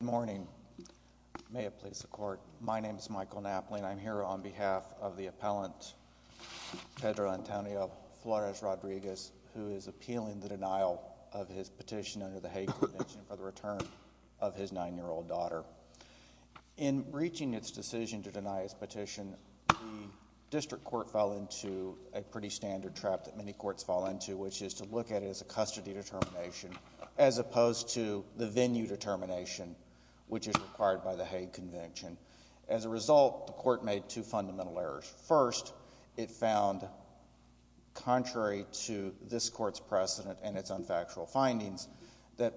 Good morning. May it please the Court. My name is Michael Knapling. I'm here on behalf of the appellant, Pedro Antonio Flores Rodriguez, who is appealing the denial of his petition under the Hague Convention for the return of his nine-year-old daughter. In reaching its decision to deny his petition, the district court fell into a pretty standard trap that many courts fall into, which is to look at it as a custody determination as opposed to the venue determination, which is required by the Hague Convention. As a result, the court made two fundamental errors. First, it found, contrary to this court's precedent and its unfactual findings, that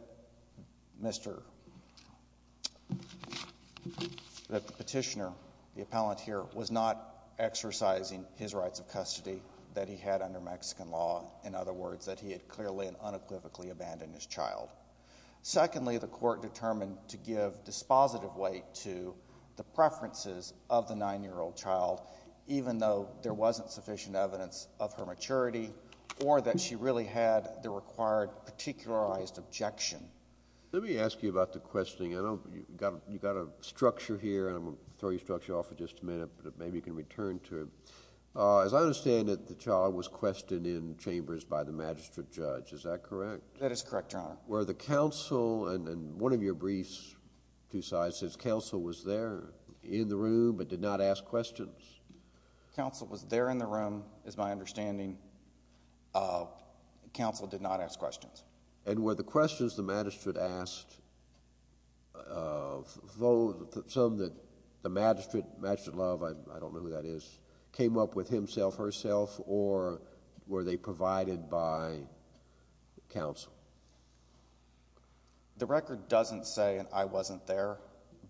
the petitioner, the appellant here, was not exercising his rights of custody that he had under Mexican law. In other words, that he had clearly and properly exercised his rights under Mexican law. Secondly, the court determined to give dispositive weight to the preferences of the nine-year-old child, even though there wasn't sufficient evidence of her maturity or that she really had the required particularized objection. Let me ask you about the questioning. You've got a structure here, and I'm going to throw your structure off for just a minute, but maybe you can return to it. As I understand it, the child was questioned in chambers by the magistrate. Were the counsel, and one of your briefs, two sides, says counsel was there in the room but did not ask questions. Counsel was there in the room, is my understanding. Counsel did not ask questions. And were the questions the magistrate asked, some that the magistrate, Magistrate Love, I don't know who that is, came up with himself or were they provided by counsel? The record doesn't say I wasn't there,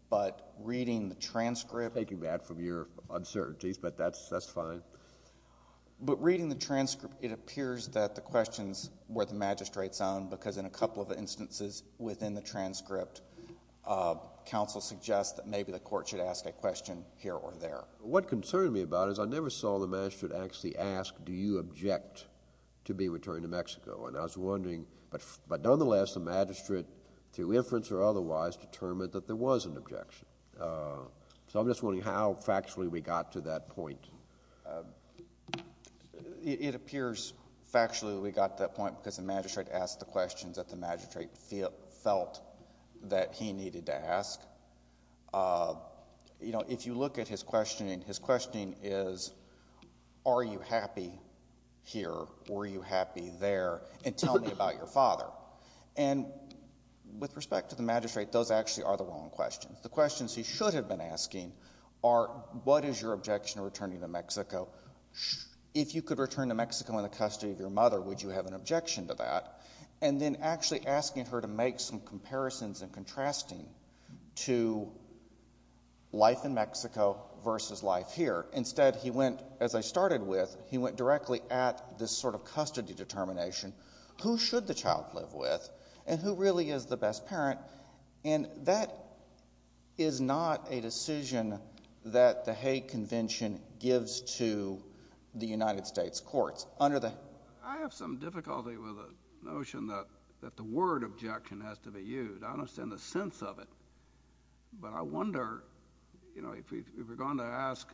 but reading the transcript... I'm taking that from your uncertainties, but that's fine. But reading the transcript, it appears that the questions were the magistrate's own, because in a couple of instances within the transcript, counsel suggests that maybe the court should ask a question here or there. What concerned me about it is I never saw the magistrate actually ask, do you object to being returned to Mexico? And I was wondering, but nonetheless, the magistrate, through inference or otherwise, determined that there was an objection. So I'm just wondering how factually we got to that point. It appears factually we got to that point because the magistrate asked the questions that the magistrate felt that he needed to be questioning. His questioning is, are you happy here? Were you happy there? And tell me about your father. And with respect to the magistrate, those actually are the wrong questions. The questions he should have been asking are, what is your objection to returning to Mexico? If you could return to Mexico in the custody of your mother, would you have an objection to that? And then actually asking her to make some comparisons and contrasting to life in Mexico versus life here. Instead, he went, as I started with, he went directly at this sort of custody determination. Who should the child live with? And who really is the best parent? And that is not a decision that the Hague Convention gives to the United States courts. I have some difficulty with the notion that the word objection has to be used. I don't understand the sense of it. But I wonder, you know, if we're going to ask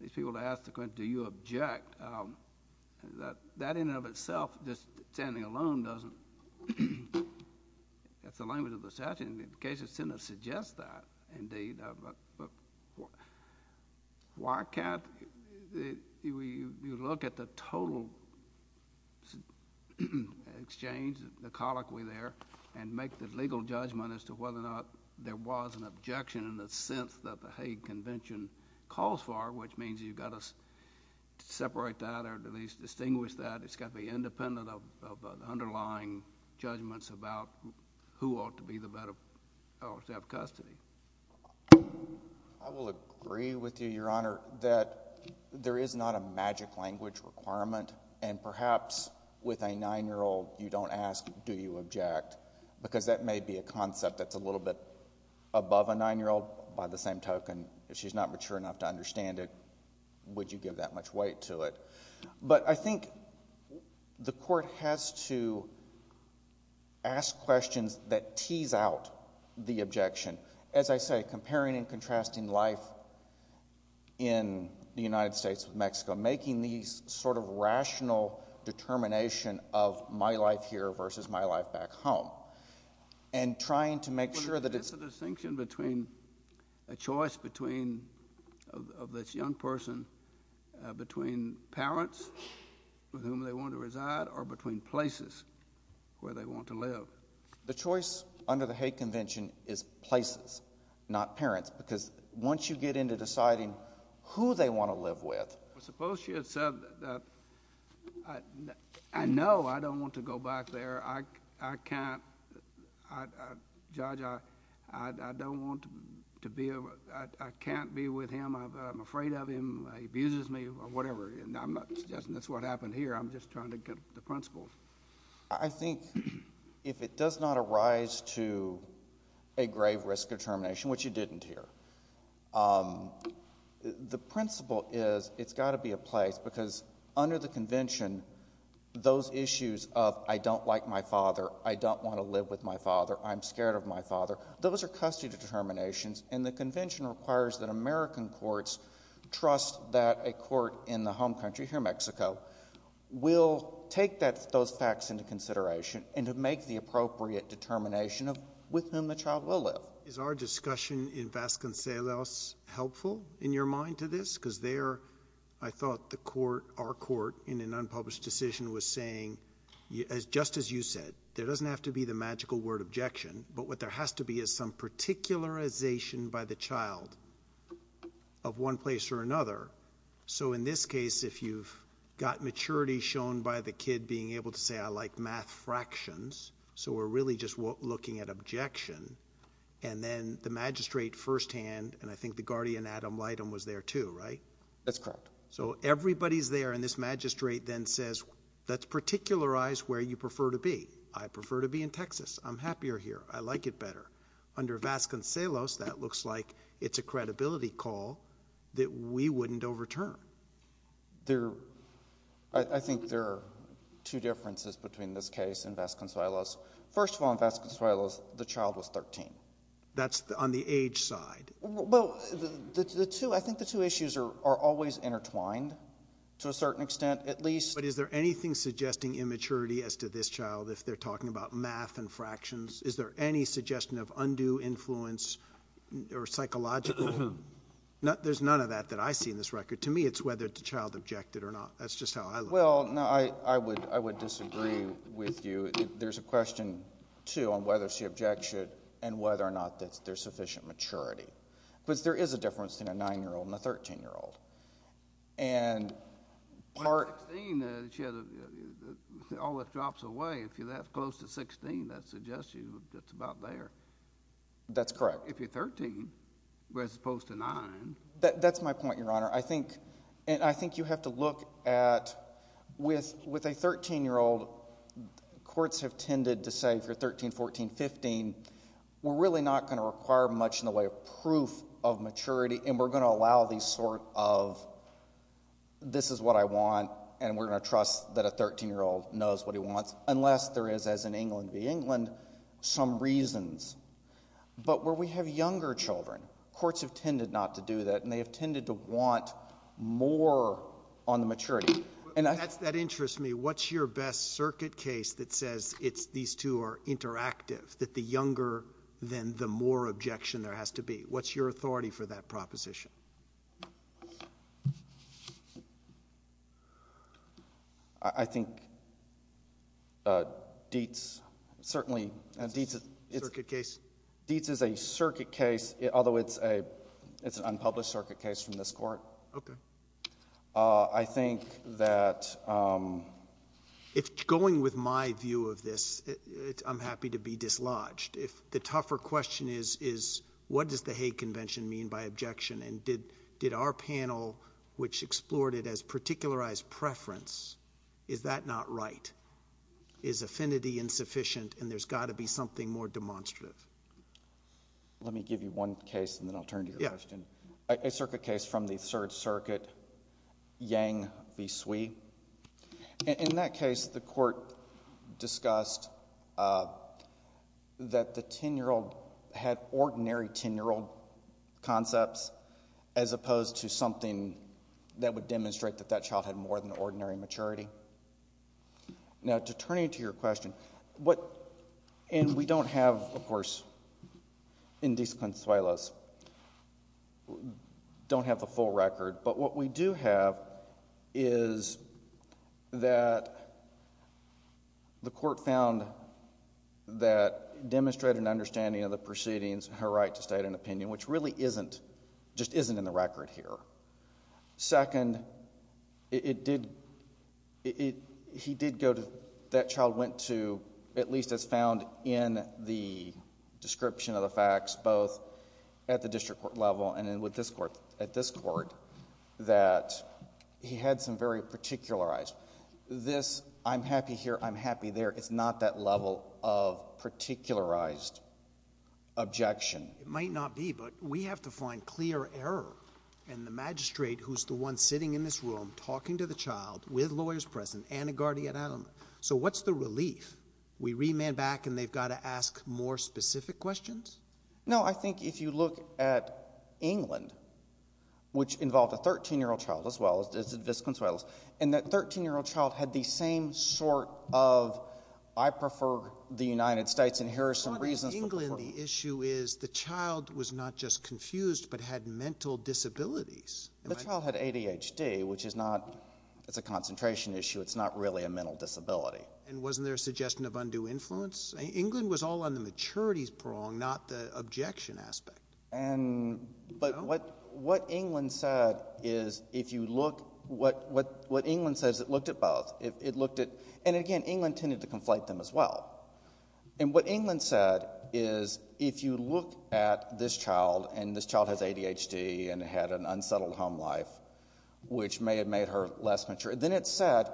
these people to ask the question, do you object, that in and of itself, just standing alone doesn't—that's the language of the statute. And the case of sentence suggests that, indeed. Why can't—you look at the total exchange, the colloquial way there, and make the legal judgment as to whether or not there was an objection in the sense that the Hague Convention calls for, which means you've got to separate that or at least distinguish that. It's got to be independent of underlying judgments about who ought to be the better—to have custody. I will agree with you, Your Honor, that there is not a magic language requirement. And perhaps with a 9-year-old, you don't ask, do you object? Because that may be a concept that's a little bit above a 9-year-old. By the same token, if she's not mature enough to understand it, would you give that much weight to it? But I think the court has to ask questions that tease out the objection. As I say, comparing and contrasting life in the United States with Mexico, making these sort of rational determination of my life here versus my life back home, and trying to make sure that it's— But is this a distinction between—a choice between—of this young person between parents with whom they want to reside or between places where they want to live? The choice under the Hague Convention is places, not parents, because once you get into deciding who they want to live with— I know I don't want to go back there. I can't—Judge, I don't want to be—I can't be with him. I'm afraid of him. He abuses me or whatever. That's what happened here. I'm just trying to get the principles. I think if it does not arise to a grave risk determination, which it didn't here, the principle is it's got to be a place, because under the convention, those issues of, I don't like my father, I don't want to live with my father, I'm scared of my father, those are custody determinations, and the convention requires that American courts trust that a court in the home country, here in Mexico, will take those facts into consideration and to make the appropriate determination of with whom the child will live. Is our discussion in Vasconcelos helpful in your mind to this? Because there, I thought the court, our court, in an unpublished decision was saying, just as you said, there doesn't have to be the magical word objection, but what there has to be is some particularization by the child of one place or another. So in this case, if you've got maturity shown by the kid being able to say, I like math fractions, so we're really just looking at objection, and then the magistrate firsthand, and I think the guardian Adam Lighton was there too, right? That's correct. So everybody's there, and this magistrate then says, let's particularize where you prefer to be. I prefer to be in Texas. I'm happier here. I like it better. Under Vasconcelos, that looks like it's a credibility call that we wouldn't overturn. There, I think there are two differences between this case and Vasconcelos. First of all, in 2013. That's on the age side. Well, the two, I think the two issues are always intertwined to a certain extent, at least. But is there anything suggesting immaturity as to this child if they're talking about math and fractions? Is there any suggestion of undue influence or psychological? There's none of that that I see in this record. To me, it's whether the child objected or not. That's just how I look at it. Well, no, I would disagree with you. There's a question, too, on whether she objected and whether or not there's sufficient maturity. But there is a difference between a 9-year-old and a 13-year-old. And part When you're 16, all that drops away. If you're that close to 16, that suggests to you it's about there. That's correct. If you're 13, as opposed to 9. That's my point, Your Honor. I think you have to look at, with a 13-year-old, courts have tended to say, if you're 13, 14, 15, we're really not going to require much in the way of proof of maturity. And we're going to allow these sort of, this is what I want, and we're going to trust that a 13-year-old knows what he wants, unless there is, as in England v. England, some reasons. But where we have younger children, courts have tended not to do that, and they have tended to want more on the maturity. That interests me. What's your best circuit case that says these two are interactive, that the younger, then the more objection there has to be? What's your authority for that proposition? I think Dietz, certainly... Dietz is a circuit case, although it's an unpublished circuit case from this court. I think that... If going with my view of this, I'm happy to be dislodged. The tougher question is, what does the Hague Convention mean by objection, and did our panel, which explored it as particularized preference, is that not right? Is affinity insufficient, and there's got to be something more demonstrative? Let me give you one case, and then I'll turn to your question. Yeah. A circuit case from the Third Circuit, Yang v. Sui. In that case, the court discussed that the 10-year-old had ordinary 10-year-old concepts, as opposed to something that would demonstrate that that child had more than ordinary maturity. Now, to turn you to your question, and we don't have, of course, in these consuelos, don't have the full record, but what we do have is that the court found that the 10-year-old that demonstrated an understanding of the proceedings had a right to state an opinion, which really isn't, just isn't in the record here. Second, it did... he did go to... that child went to, at least as found in the description of the facts, both at the district court level and with this court, that he had some very particularized... this, I'm happy here, I'm happy there. It's not that level of particularized objection. It might not be, but we have to find clear error in the magistrate who's the one sitting in this room, talking to the child, with lawyers present, and a guardian at him. So what's the relief? We remand back and they've got to ask more specific questions? No. I think if you look at England, which involved a 13-year-old child, as well as Viscount and that 13-year-old child had the same sort of, I prefer the United States and here are some reasons... But in England, the issue is the child was not just confused, but had mental disabilities. The child had ADHD, which is not... it's a concentration issue. It's not really a mental disability. And wasn't there a suggestion of undue influence? England was all on the maturity prong, not the objection aspect. But what England said is if you look... what England says, it looked at both. It looked at... and again, England tended to conflate them as well. And what England said is if you look at this child, and this child has ADHD and had an unsettled home life, which may have made her less mature, then it said...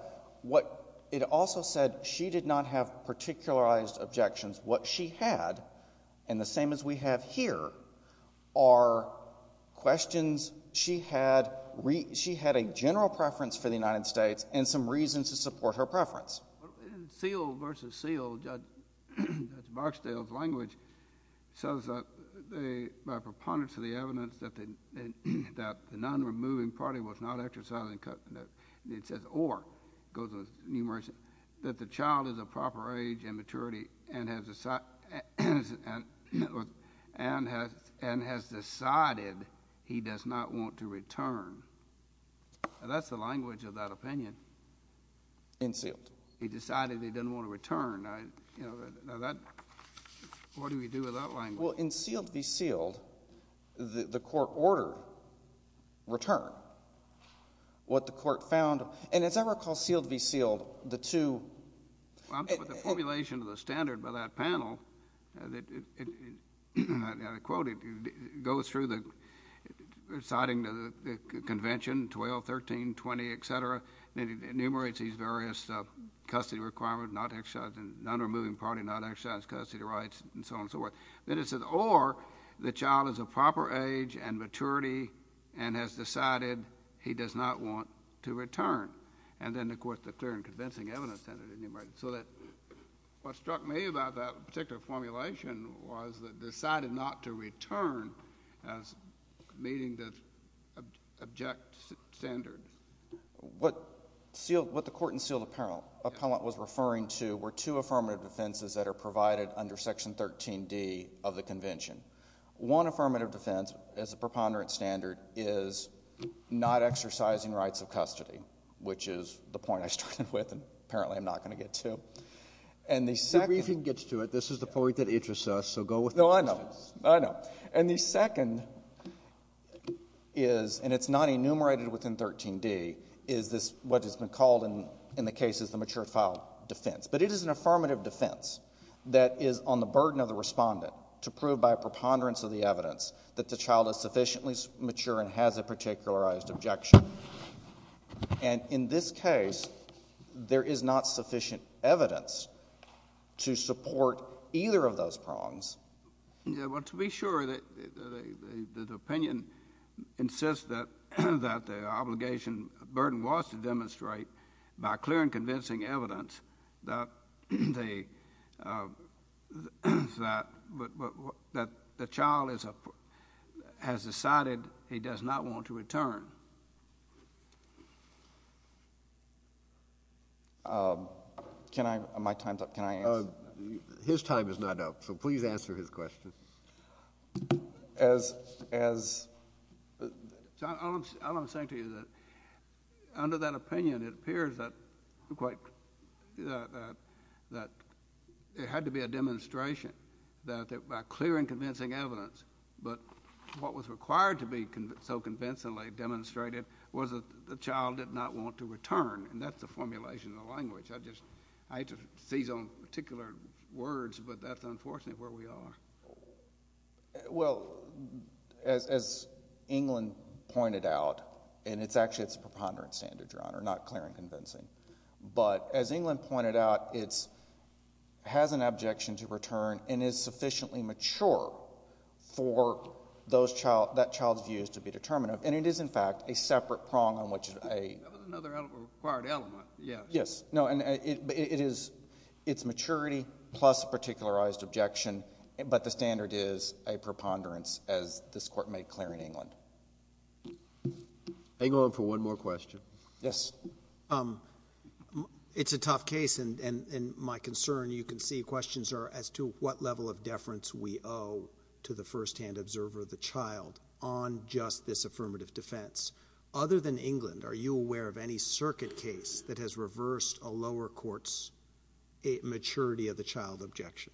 it also said she did not have particularized objections. What she had, and the same as we have here, are questions she had... she had a general preference for the United States and some reasons to support her preference. But in Seale v. Seale, Judge Barksdale's language says that by preponderance of the evidence that the non-removing party was not exercising... it says or, it goes into numeracy, that the child is of proper age and maturity and has decided he does not want to return. That's the language of that opinion. In Seale. He decided he didn't want to return. Now that... what do we do with that language? Well, in Seale v. Seale, the court ordered return. What the court found... and as I recall, Seale v. Seale, the two... Well, I'm talking about the formulation of the standard by that panel. I quote it. It goes through the... reciting the convention, 12, 13, 20, et cetera, and it enumerates these various custody requirements, not exercising... non-removing party, not exercising custody rights, and so on and so forth. Then it says or, the child is of proper age and maturity and has decided he does not want to return. And then, of course, the clear and convincing evidence standard enumerated. So that... what struck me about that particular formulation was that decided not to return as meeting the object standard. What Seale... what the court in Seale appellant was referring to were two affirmative defenses that are provided under Section 13D of the convention. One affirmative defense is a preponderance of the standard is not exercising rights of custody, which is the point I started with and apparently I'm not going to get to. And the second... The briefing gets to it. This is the point that interests us, so go with the... No, I know. I know. And the second is, and it's not enumerated within 13D, is this... what has been called in the case is the matured file defense. But it is an affirmative defense that is on the burden of the respondent to prove by a preponderance of the evidence that the child is sufficiently mature and has a particularized objection. And in this case, there is not sufficient evidence to support either of those prongs. Yeah, well, to be sure, the opinion insists that the obligation burden was to demonstrate by clear and convincing evidence that the child is a... that the child is a child has decided he does not want to return. Can I... my time's up. Can I answer? His time is not up, so please answer his question. As... as... I'm saying to you that under that opinion, it appears that quite... that it had to be a demonstration that by clear and convincing evidence, but what was required to be so convincingly demonstrated was that the child did not want to return. And that's the formulation of the language. I just... I hate to seize on particular words, but that's unfortunately where we are. Well, as England pointed out, and it's actually a preponderance standard, Your Honor, not an objection to return and is sufficiently mature for those child... that child's views to be determinative. And it is, in fact, a separate prong on which a... That was another required element, yes. Yes. No, and it is... it's maturity plus a particularized objection, but the standard is a preponderance, as this Court made clear in England. Hang on for one more question. Yes. It's a tough case, and my concern... you can see questions are as to what level of deference we owe to the firsthand observer of the child on just this affirmative defense. Other than England, are you aware of any circuit case that has reversed a lower court's maturity of the child objection?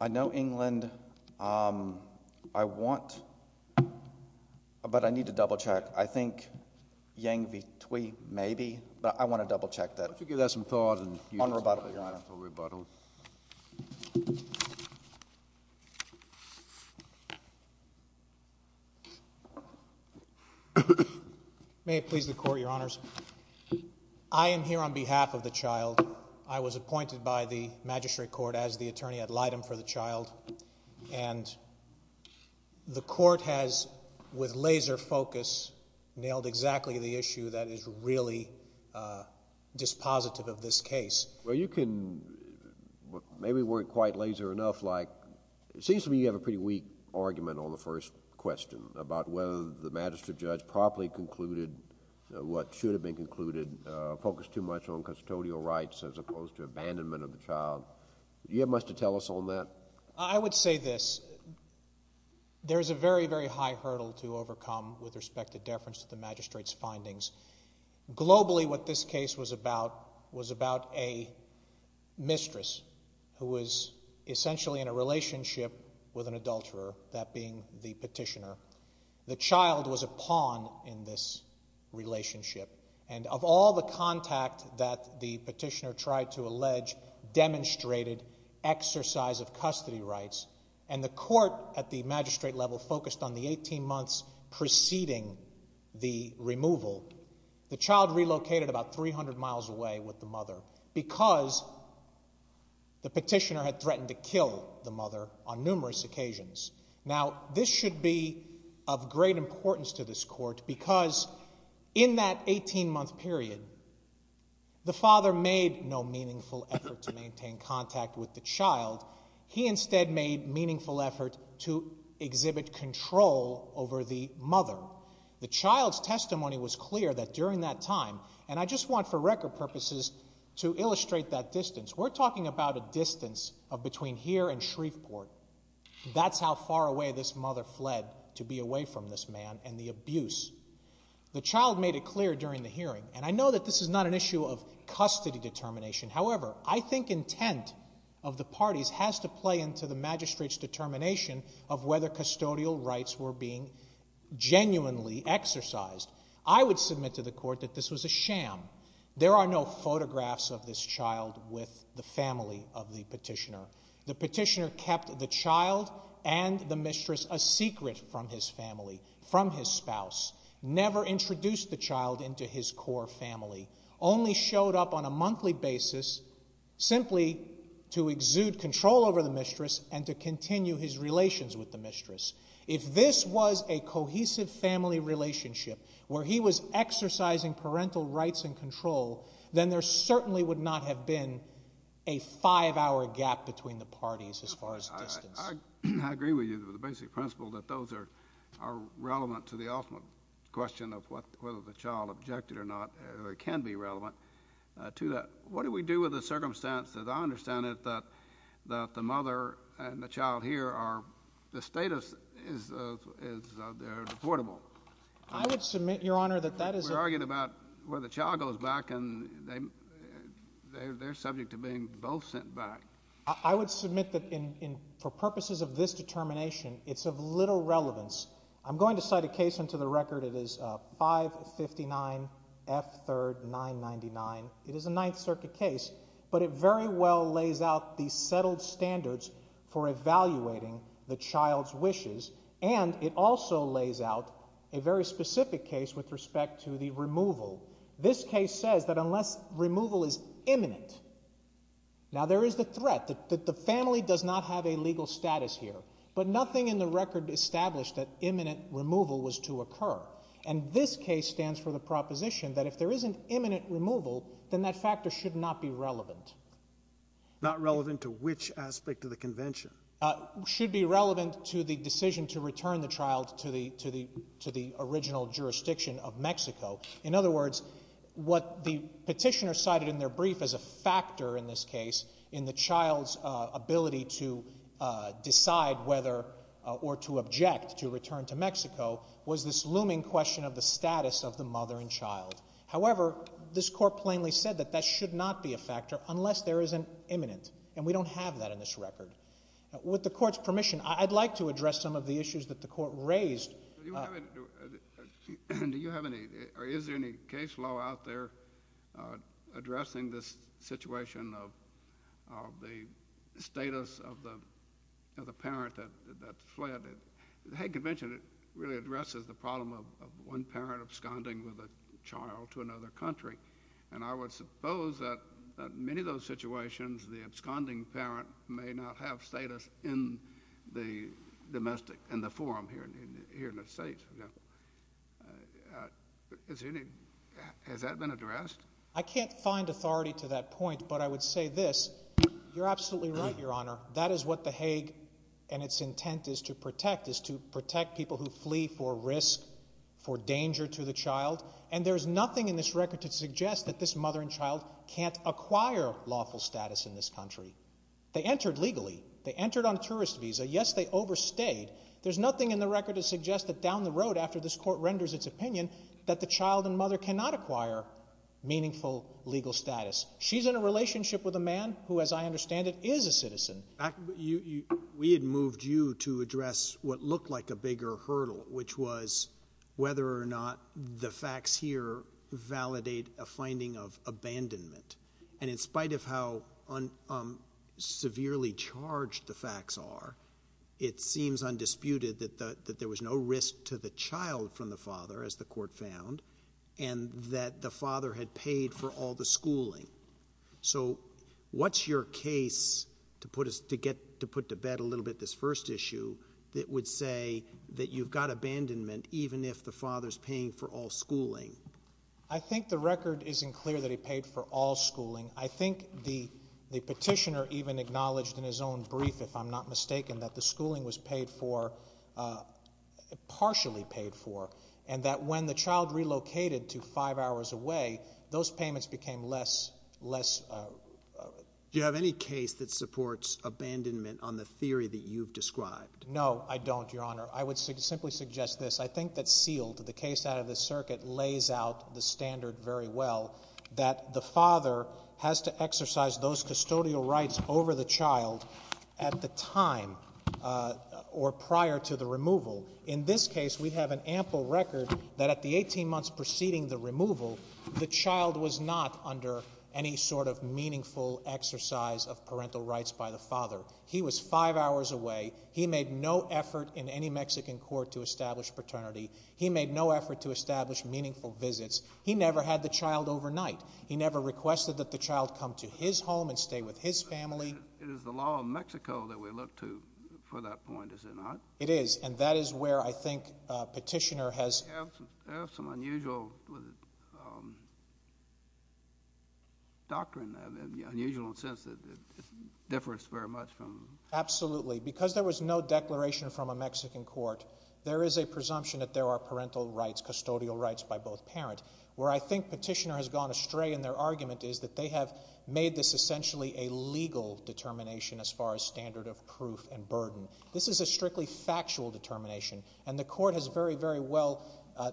I know England... I want... but I need to double-check. I think Yang v. Thwee, maybe, but I want to double-check that. Why don't you give that some thought and... May it please the Court, Your Honors. I am here on behalf of the child. I was appointed by the Magistrate Court as the attorney ad litem for the child, and the Court has, with laser focus, nailed exactly the issue that is really dispositive of this case. Well, you can... maybe weren't quite laser enough, like, it seems to me you have a pretty weak argument on the first question about whether the magistrate judge properly concluded what should have been concluded, focused too much on custodial rights as opposed to abandonment of the child. Do you have much to tell us on that? I would say this. There is a very, very high hurdle to overcome with respect to deference to the magistrate's findings. Globally, what this case was about was about a mistress who was essentially in a relationship with an adulterer, that being the petitioner. The child was a pawn in this relationship, and of all the contact that the petitioner tried to allege demonstrated exercise of custody rights, and the Court at the magistrate level focused on the 18 months preceding the removal, the child relocated about 300 miles away with the mother because the petitioner had threatened to kill the mother on numerous occasions. Now, this should be of great importance to this Court because in that 18-month period, the father made no meaningful effort to maintain contact with the child. He instead made meaningful effort to exhibit control over the mother. The child's testimony was clear that during that time, and I just want for record purposes to illustrate that distance. We're talking about a distance of between here and Shreveport. That's how far away this mother fled to be away from this man and the abuse. The child made it clear during the hearing, and I know that this is not an issue of custody determination. However, I think intent of the parties has to play into the magistrate's determination of whether custodial rights were being genuinely exercised. I would submit to the Court that this was a sham. There are no photographs of this child with the family of the petitioner. The petitioner kept the child and the mistress a secret from his family, from his spouse. Never introduced the child into his core family. Only showed up on a monthly basis simply to exude control over the mistress and to continue his relations with the mistress. If this was a cohesive family relationship where he was exercising parental rights and control, then there certainly would not have been a five-hour gap between the parties as far as distance. I agree with you with the basic principle that those are relevant to the ultimate question of whether the child objected or not, or can be relevant to that. What do we do with the circumstance that I understand that the mother and the child here are, the status is, they're deportable? I would submit, Your Honor, that that is a... We're arguing about whether the child goes back and they're subject to being both sent back. I would submit that for purposes of this determination, it's of little relevance. I'm going to cite a case into the record. It is 559 F. 3rd. 999. It is a Ninth Circuit case, but it very well lays out the settled standards for evaluating the child's wishes and it also lays out a very specific case with respect to the removal. This case says that unless removal is imminent, now there is the threat that the family does not have a legal status here, but nothing in the record established that imminent removal was to occur. And this case stands for the proposition that if there isn't imminent removal, then that factor should not be relevant. Not relevant to which aspect of the convention? Should be relevant to the decision to return the child to the original jurisdiction of Mexico. In other words, what the petitioner cited in their brief as a factor in this case in the child's ability to decide whether or to object to return to Mexico was this looming question of the status of the mother and child. However, this court plainly said that that should not be a factor unless there is an imminent, and we don't have that in this record. With the court's permission, I'd like to address some of the issues that the court raised. Do you have any or is there any case law out there addressing this situation of the status of the parent that fled? The Hague Convention really addresses the problem of one parent absconding with a child to another country. And I would suppose that many of those situations, the absconding parent may not have status in the domestic, in the forum here in the States. Has that been addressed? I can't find authority to that point, but I would say this. You're absolutely right, Your Honor. That is what the Hague and its intent is to protect, is to protect people who flee for risk, for danger to the child. And there's nothing in this record to suggest that this mother and child can't acquire lawful status in this country. They entered legally. They entered on a tourist visa. Yes, they overstayed. There's nothing in the record to suggest that down the road after this court renders its opinion that the child and mother cannot acquire meaningful legal status. She's in a relationship with a man who, as I understand it, is a citizen. We had moved you to address what looked like a bigger hurdle, which was whether or not the facts here validate a finding of abandonment. And in spite of how severely charged the facts are, it seems undisputed that there was no risk to the child from the father, as the court found, and that the father had paid for all the schooling. So what's your case to get to put to bed a little bit this first issue that would say that you've got abandonment even if the father's paying for all schooling? I think the record isn't clear that he paid for all schooling. I think the petitioner even acknowledged in his own brief, if I'm not mistaken, that the schooling was paid for, partially paid for, and that when the child relocated to five hours away, those payments became less, less... Do you have any case that supports abandonment on the theory that you've described? No, I don't, Your Honor. I would simply suggest this. I think that sealed, the case out of the circuit lays out the standard very well, that the father has to exercise those custodial rights over the child at the time or prior to the removal. In this case, we have an ample record that at the 18 months preceding the removal, the child was not under any sort of meaningful exercise of parental rights by the father. He was five hours away. He made no effort in any Mexican court to establish paternity. He made no effort to establish meaningful visits. He never had the child overnight. He never requested that the child come to his home and stay with his family. It is the law of Mexico that we look to for that point, is it not? It is, and that is where I think petitioner has... They have some unusual doctrine, unusual in the sense that it differs very much from... Absolutely. Because there was no declaration from a Mexican court, there is a presumption that there are parental rights, custodial rights by both parents. Where I think petitioner has gone astray in their argument is that they have made this essentially a legal determination as far as standard of proof and burden. This is a strictly factual determination, and the court has very, very well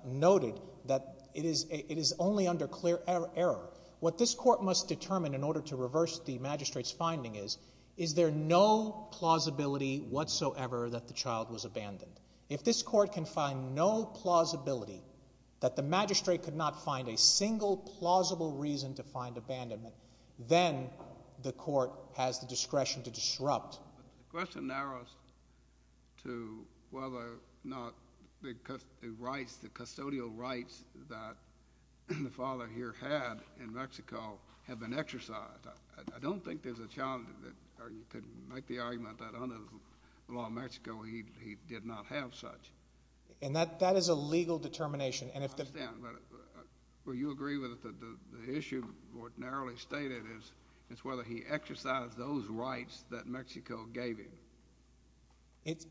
noted that it is only under clear error. What this court must determine in order to reverse the magistrate's finding is, is there no plausibility whatsoever that the child was abandoned? If this court can find no plausibility that the magistrate could not find a single plausible reason to find abandonment, then the court has the discretion to disrupt. The question narrows to whether or not the custodial rights that the father here had in Mexico have been exercised. I don't think there's a challenge that you could make the argument that under the law of Mexico he did not have such. That is a legal determination. You agree with the issue, what narrowly stated is whether he exercised those rights that Mexico gave him.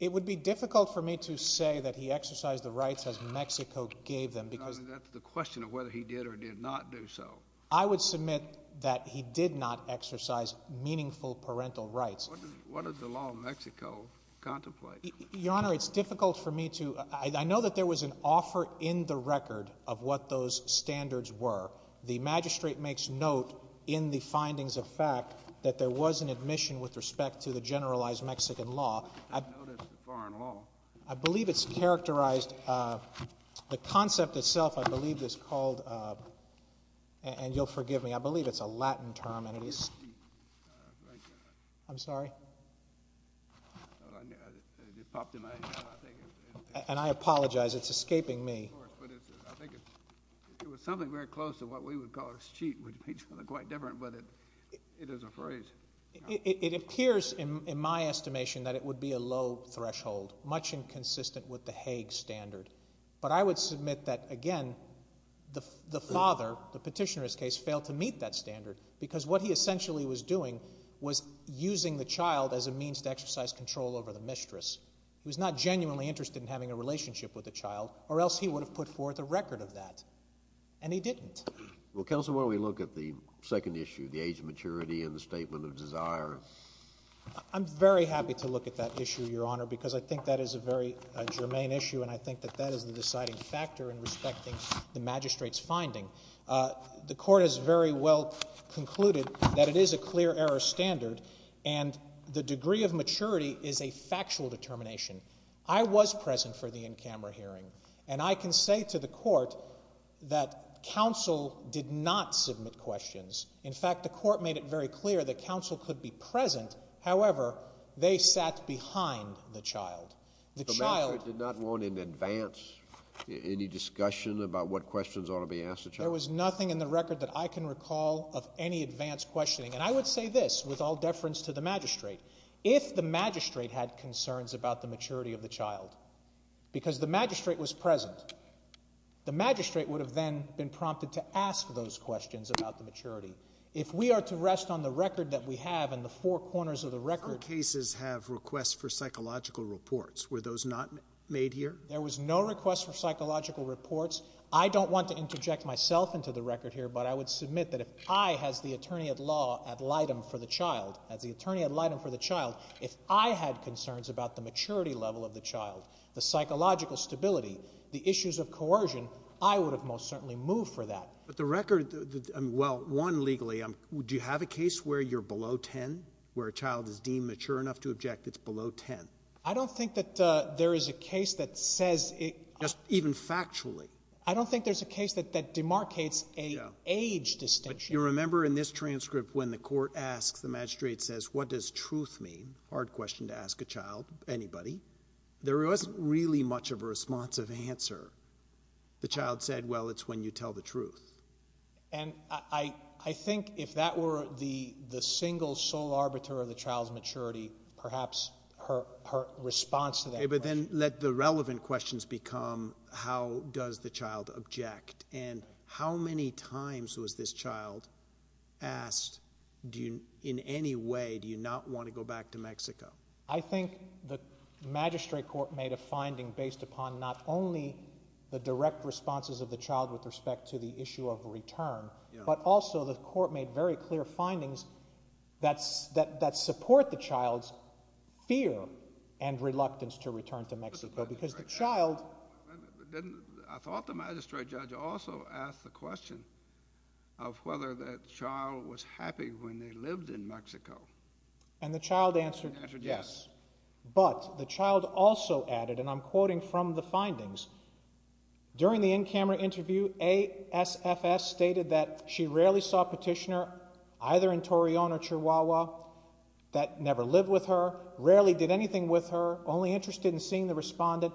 It would be difficult for me to say that he exercised the rights as Mexico gave them. That's the question of whether he did or did not do so. I would submit that he did not exercise meaningful parental rights. What does the law of Mexico contemplate? Your Honor, it's difficult for me to, I know that there was an offer in the record of what those standards were. The magistrate makes note in the findings of fact that there was an omission with respect to the generalized Mexican law. I believe it's characterized, the concept itself I believe is called, and you'll forgive me, I believe it's a Latin term. I'm sorry. I apologize, it's escaping me. It was something very close to what we would call a cheat, which is quite different, but it is a phrase. It appears in my estimation that it would be a low threshold, much inconsistent with the Hague standard. But I would submit that again, the father, the petitioner in this case, failed to meet that standard because what he essentially was doing was using the child as a means to exercise control over the mistress. He was not genuinely interested in having a relationship with the child or else he would have put forth a record of that, and he didn't. Well, counsel, why don't we look at the second issue, the age of maturity and the statement of desire? I'm very happy to look at that issue, Your Honor, because I think that is a very germane issue and I think that that is the deciding factor in respecting the magistrate's finding. The court has very well concluded that it is a clear error standard and the degree of And I can say to the court that counsel did not submit questions. In fact, the court made it very clear that counsel could be present. However, they sat behind the child. The child The magistrate did not want in advance any discussion about what questions ought to be asked of the child? There was nothing in the record that I can recall of any advance questioning. And I would say this, with all deference to the magistrate, if the magistrate had concerns about the maturity of the child, because the magistrate was present, the magistrate would have then been prompted to ask those questions about the maturity. If we are to rest on the record that we have in the four corners of the record Our cases have requests for psychological reports. Were those not made here? There was no request for psychological reports. I don't want to interject myself into the record here, but I would submit that if I, as the attorney at law ad litem for the child, as the attorney ad litem for the child, if I had concerns about the maturity level of the child, the psychological stability, the issues of coercion, I would have most certainly moved for that. But the record, well, one, legally, do you have a case where you're below 10, where a child is deemed mature enough to object that it's below 10? I don't think that there is a case that says Just even factually? I don't think there's a case that demarcates an age distinction You remember in this transcript when the court asks, the magistrate says, what does truth mean? Hard question to ask a child, anybody. There wasn't really much of a responsive answer. The child said, well, it's when you tell the truth. And I think if that were the single sole arbiter of the child's maturity, perhaps her response to that But then let the relevant questions become, how does the child object? And how many times was this child asked, in any way, do you not want to go back to Mexico? I think the magistrate court made a finding based upon not only the direct responses of the child with respect to the issue of return, but also the court made very clear findings that support the child's fear and reluctance to return to Mexico, because the child I thought the magistrate judge also asked the question of whether that child was happy when they lived in Mexico. And the child answered, yes. But the child also added, and I'm quoting from the findings. During the in-camera interview, ASFS stated that she rarely saw a petitioner, either in Torreon or Chihuahua, that never lived with her, rarely did anything with her, only interested in seeing the respondent.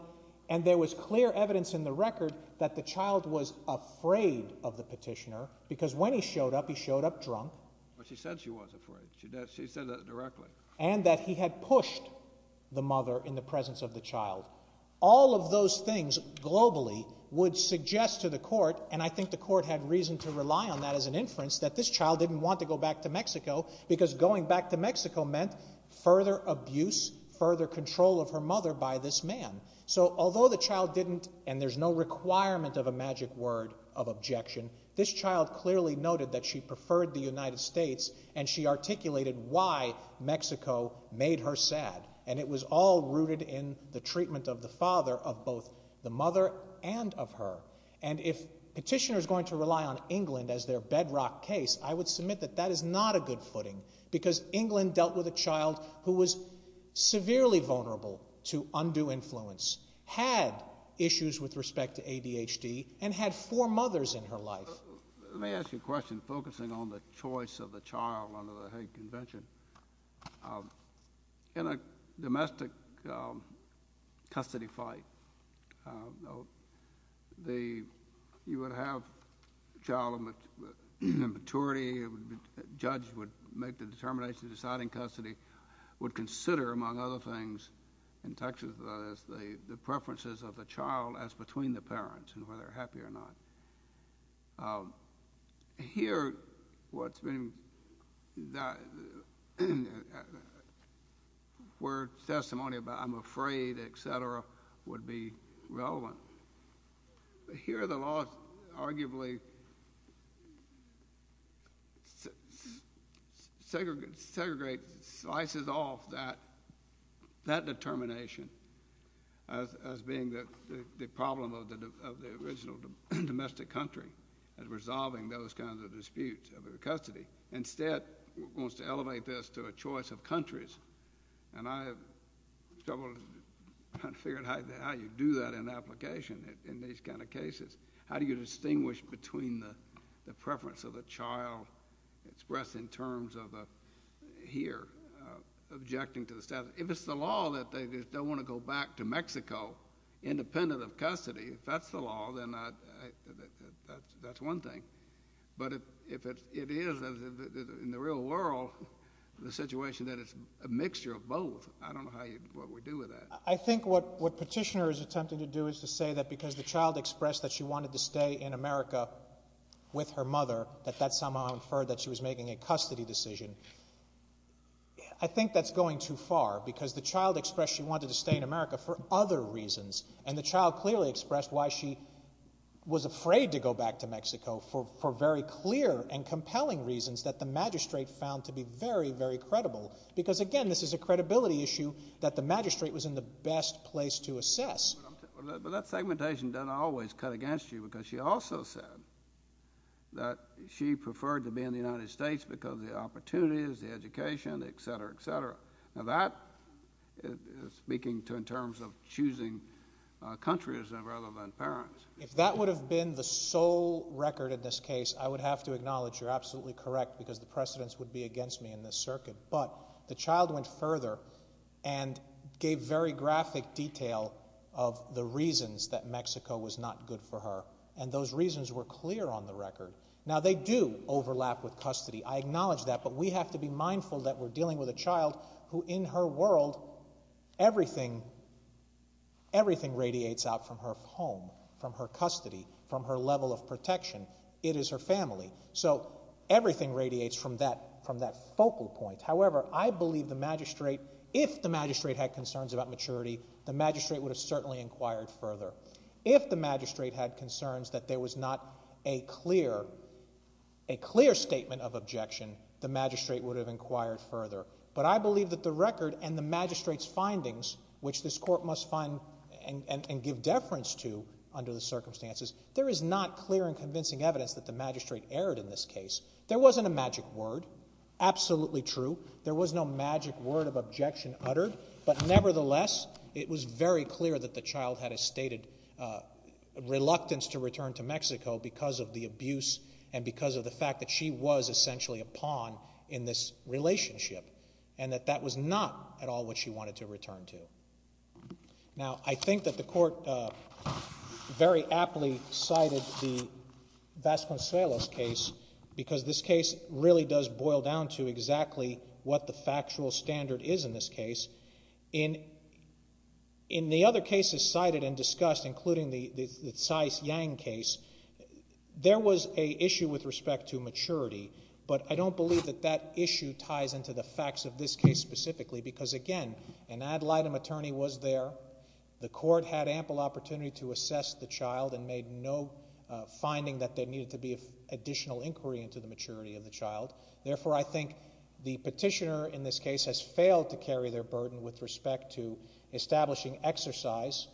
And there was clear evidence in the record that the child was afraid of the petitioner, because when he showed up, he showed up drunk. But she said she was afraid. She said that directly. And that he had pushed the mother in the presence of the child. All of those things, globally, would suggest to the court, and I think the court had reason to rely on that as an inference, that this child didn't want to go back to Mexico, because going back to Mexico meant further abuse, further control of her mother by this man. So although the child didn't, and there's no requirement of a magic word of objection, this child clearly noted that she preferred the United States, and she articulated why Mexico made her sad. And it was all rooted in the treatment of the father of both the mother and of her. And if petitioners are going to rely on England as their bedrock case, I would submit that is not a good footing, because England dealt with a child who was severely vulnerable to undue influence, had issues with respect to ADHD, and had four mothers in her life. Let me ask you a question, focusing on the choice of the child under the Hague Convention. In a domestic custody fight, you would have a child in maturity, a judge would make the determination of deciding custody, would consider, among other things, in Texas, the preferences of the child as between the parents, and whether they're happy or not. Here, what's been, where testimony about, I'm afraid, et cetera, would be relevant. Here, the law arguably segregates, slices off that determination as being the problem of the original domestic country, as resolving those kinds of disputes over custody. Instead, wants to elevate this to a choice of countries, and I have trouble figuring how you do that in application in these kind of cases. How do you distinguish between the preference of a child expressed in terms of a, here, objecting to the status, if it's the law that they just don't want to go back to Mexico, independent of custody? If that's the law, then that's one thing. But if it is, in the real world, the situation that it's a mixture of both, I don't know how you, what we do with that. I think what Petitioner is attempting to do is to say that because the child expressed that she wanted to stay in America with her mother, that that somehow inferred that she was making a custody decision. I think that's going too far, because the child expressed she wanted to stay in America for other reasons, and the child clearly expressed why she was afraid to go back to Mexico, for very clear and compelling reasons that the magistrate found to be very, very credible. Because, again, this is a credibility issue that the magistrate was in the best place to assess. But that segmentation doesn't always cut against you, because she also said that she preferred to be in the United States because of the opportunities, the education, et cetera, et cetera. Now, that is speaking in terms of choosing countries rather than parents. If that would have been the sole record in this case, I would have to acknowledge you're absolutely correct, because the precedents would be against me in this circuit. But the child went further and gave very graphic detail of the reasons that Mexico was not good for her, and those reasons were clear on the record. Now, they do overlap with custody. I acknowledge that, but we have to be mindful that we're dealing with a child who, in her world, everything radiates out from her home, from her custody, from her level of protection. It is her family. So everything radiates from that focal point. However, I believe the magistrate, if the magistrate had concerns about maturity, the magistrate would have certainly inquired further. If the magistrate had concerns that there was not a clear statement of objection, the magistrate would have inquired further. But I believe that the record and the magistrate's findings, which this court must find and give deference to under the circumstances, there is not clear and convincing evidence that the magistrate erred in this case. There wasn't a magic word. Absolutely true. There was no magic word of objection uttered. But nevertheless, it was very clear that the child had a stated reluctance to return to Mexico because of the abuse and because of the fact that she was essentially a pawn in this relationship, and that that was not at all what she wanted to return to. Now, I think that the court very aptly cited the Vasconcelos case because this case really does boil down to exactly what the factual standard is in this case. In the other cases cited and discussed, including the Cyce Yang case, there was an issue with respect to maturity, but I don't believe that that issue ties into the facts of this case specifically because, again, an ad litem attorney was there. The court had ample opportunity to assess the child and made no finding that there needed to be additional inquiry into the maturity of the child. Therefore, I think the petitioner in this case has failed to carry their burden with respect to establishing exercise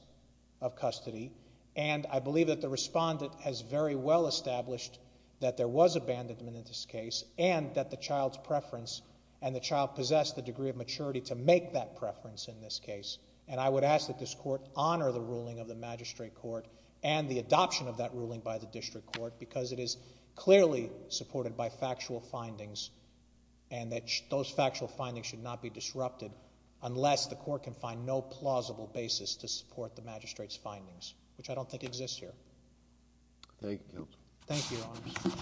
of custody, and I believe that the respondent has very well established that there was abandonment in this case and that the child's preference and the child possessed the degree of maturity to make that preference in this case. And I would ask that this court honor the ruling of the magistrate court and the adoption of that ruling by the district court because it is clearly supported by factual findings and that those factual findings should not be disrupted unless the court can find no plausible basis to support the magistrate's findings, which I don't think exists here. Thank you, Your Honors.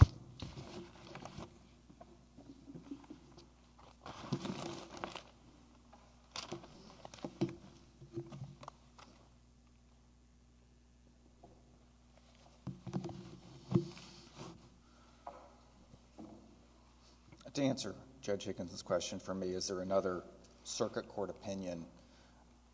To answer Judge Higgins' question for me, is there another circuit court opinion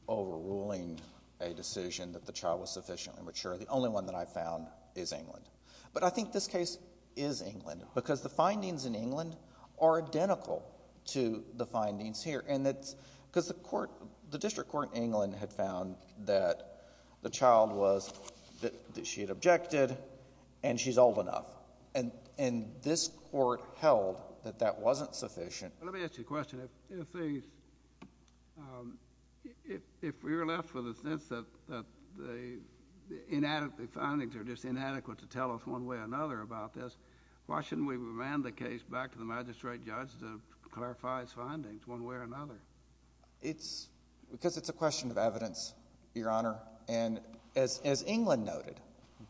overruling a decision that the child was sufficiently mature? The only one that I found is England. But I think this case is England because the findings in England are identical to the findings here, and that's because the court, the district court in England had found that the child was, that she had objected, and she's old enough. And this court held that that wasn't sufficient. Let me ask you a question. If we're left with a sense that the findings are just inadequate to tell us one way or another about this, why shouldn't we remand the case back to the magistrate judge to clarify his findings one way or another? It's because it's a question of evidence, Your Honor. And as England noted,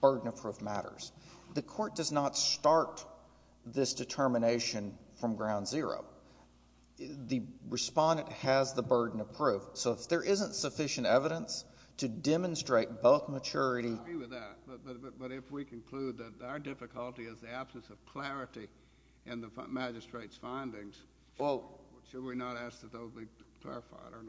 burden of proof matters. The court does not start this determination from ground zero. The respondent has the burden of proof. So if there isn't sufficient evidence to demonstrate both maturity— I agree with that. But if we conclude that our difficulty is the absence of clarity in the magistrate's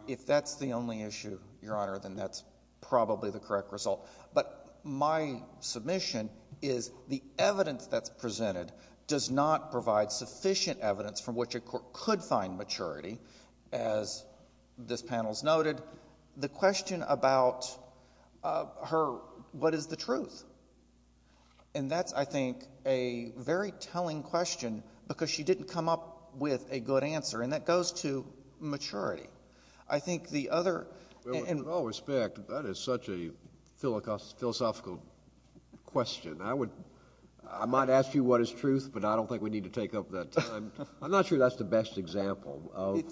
If that's the only issue, Your Honor, then that's probably the correct result. But my submission is the evidence that's presented does not provide sufficient evidence from which a court could find maturity. As this panel's noted, the question about her, what is the truth? And that's, I think, a very telling question because she didn't come up with a good answer. And that goes to maturity. I think the other— With all respect, that is such a philosophical question. I might ask you what is truth, but I don't think we need to take up that time. I'm not sure that's the best example of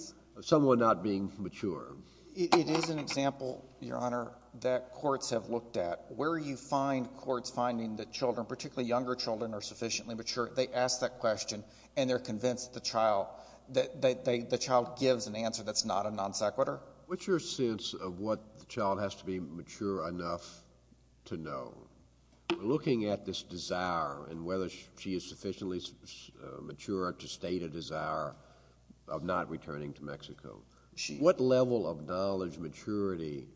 someone not being mature. It is an example, Your Honor, that courts have looked at. Where you find courts finding that children, particularly younger children, are sufficiently mature, they ask that question, and they're convinced that the child gives an answer that's not a non sequitur. What's your sense of what the child has to be mature enough to know? Looking at this desire and whether she is sufficiently mature to state a desire of not returning to Mexico, what level of knowledge, maturity,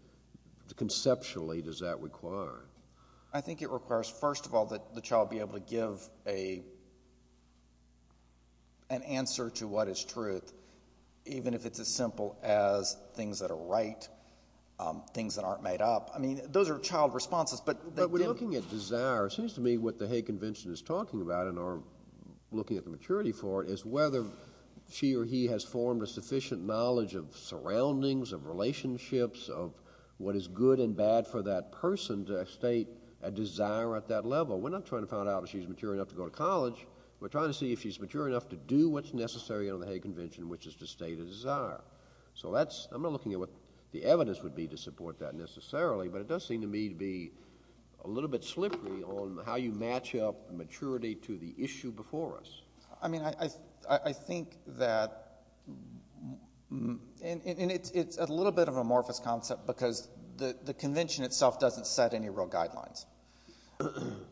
conceptually, does that require? I think it requires, first of all, that the child be able to give an answer to what is truth, even if it's as simple as things that are right, things that aren't made up. I mean, those are child responses, but— But when looking at desire, it seems to me what the Hague Convention is talking about and are looking at the maturity for it is whether she or he has formed a sufficient knowledge of surroundings, of relationships, of what is good and bad for that person to state a desire at that level. We're not trying to find out if she's mature enough to go to college. We're trying to see if she's mature enough to do what's necessary under the Hague Convention, which is to state a desire. So that's—I'm not looking at what the evidence would be to support that necessarily, but it does seem to me to be a little bit slippery on how you match up maturity to the issue before us. I mean, I think that—and it's a little bit of an amorphous concept because the convention itself doesn't set any real guidelines.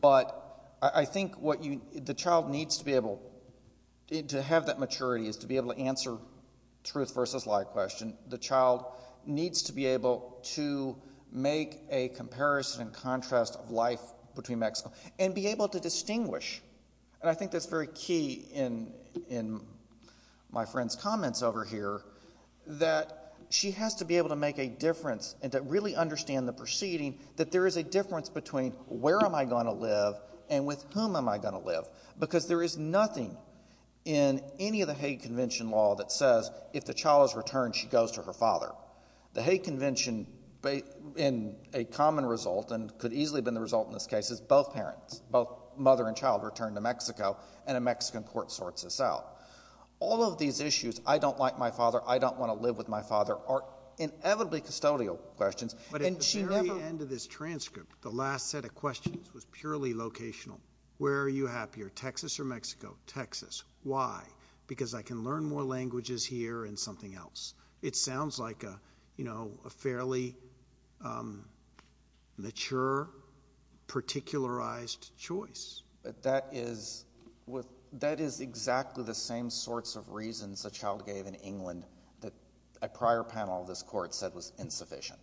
But I think what you—the child needs to be able to have that maturity is to be able to answer truth versus lie question. The child needs to be able to make a comparison and contrast of life between Mexico and be able to distinguish. And I think that's very key in my friend's comments over here that she has to be able to make a difference and to really understand the proceeding that there is a difference between where am I going to live and with whom am I going to live because there is nothing in any of the Hague Convention law that says if the child has returned, she goes to her father. The Hague Convention, and a common result and could easily have been the result in this case, is both parents, both mother and child return to Mexico, and a Mexican court sorts this out. All of these issues, I don't like my father, I don't want to live with my father, are inevitably custodial questions. But at the very end of this transcript, the last set of questions was purely locational. Where are you happier, Texas or Mexico? Texas. Why? Because I can learn more languages here and something else. It sounds like a fairly mature, particularized choice. But that is exactly the same sorts of reasons a child gave in England that a prior panel of this Court said was insufficient.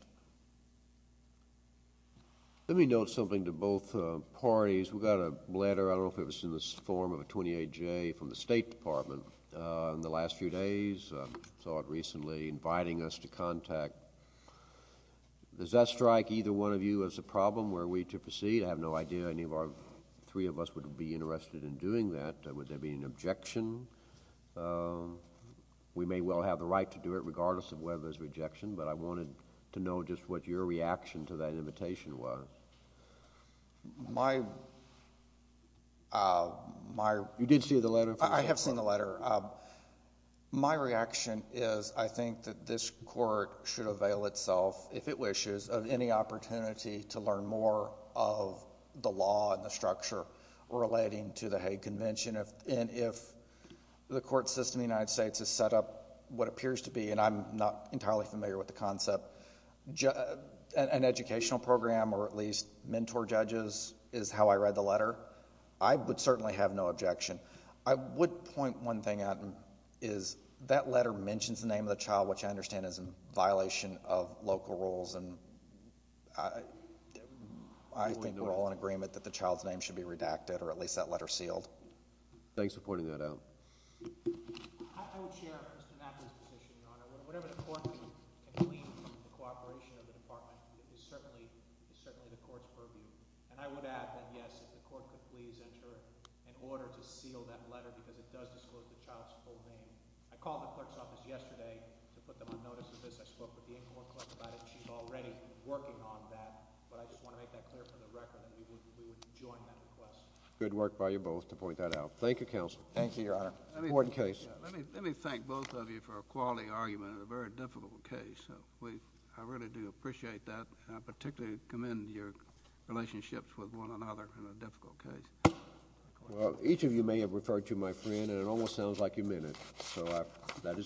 Let me note something to both parties. We got a letter, I don't know if it was in the form of a 28-J from the State Department, in the last few days, I saw it recently, inviting us to contact. Does that strike either one of you as a problem? Were we to proceed? I have no idea any of our three of us would be interested in doing that. Would there be an objection? We may well have the right to do it regardless of whether there's rejection, but I wanted to know just what your reaction to that invitation was. You did see the letter? I have seen the letter. My reaction is I think that this Court should avail itself, if it wishes, of any opportunity to learn more of the law and the structure relating to the Hague Convention. If the court system in the United States has set up what appears to be, and I'm not entirely familiar with the concept, an educational program or at least mentor judges is how I read the letter, I would certainly have no objection. I would point one thing out, is that letter mentions the name of the child, which I understand is in violation of local rules, and I think we're all in agreement that the child's name should be redacted or at least that letter sealed. Thanks for pointing that out. I would share Mr. Mack's position, Your Honor. Whatever the court can plead for the cooperation of the department, it is certainly the court's purview. And I would add, then, yes, if the court could please enter an order to seal that letter because it does disclose the child's full name. I called the clerk's office yesterday to put them on notice of this. I spoke with the in-court clerk about it, and she's already working on that, but I just want to make that clear for the record that we would join that request. Good work by you both to point that out. Thank you, Counsel. Thank you, Your Honor. Let me thank both of you for a quality argument in a very difficult case. I really do appreciate that, and I particularly commend your relationships with one another in a difficult case. Each of you may have referred to my friend, and it almost sounds like you meant it, so that is good.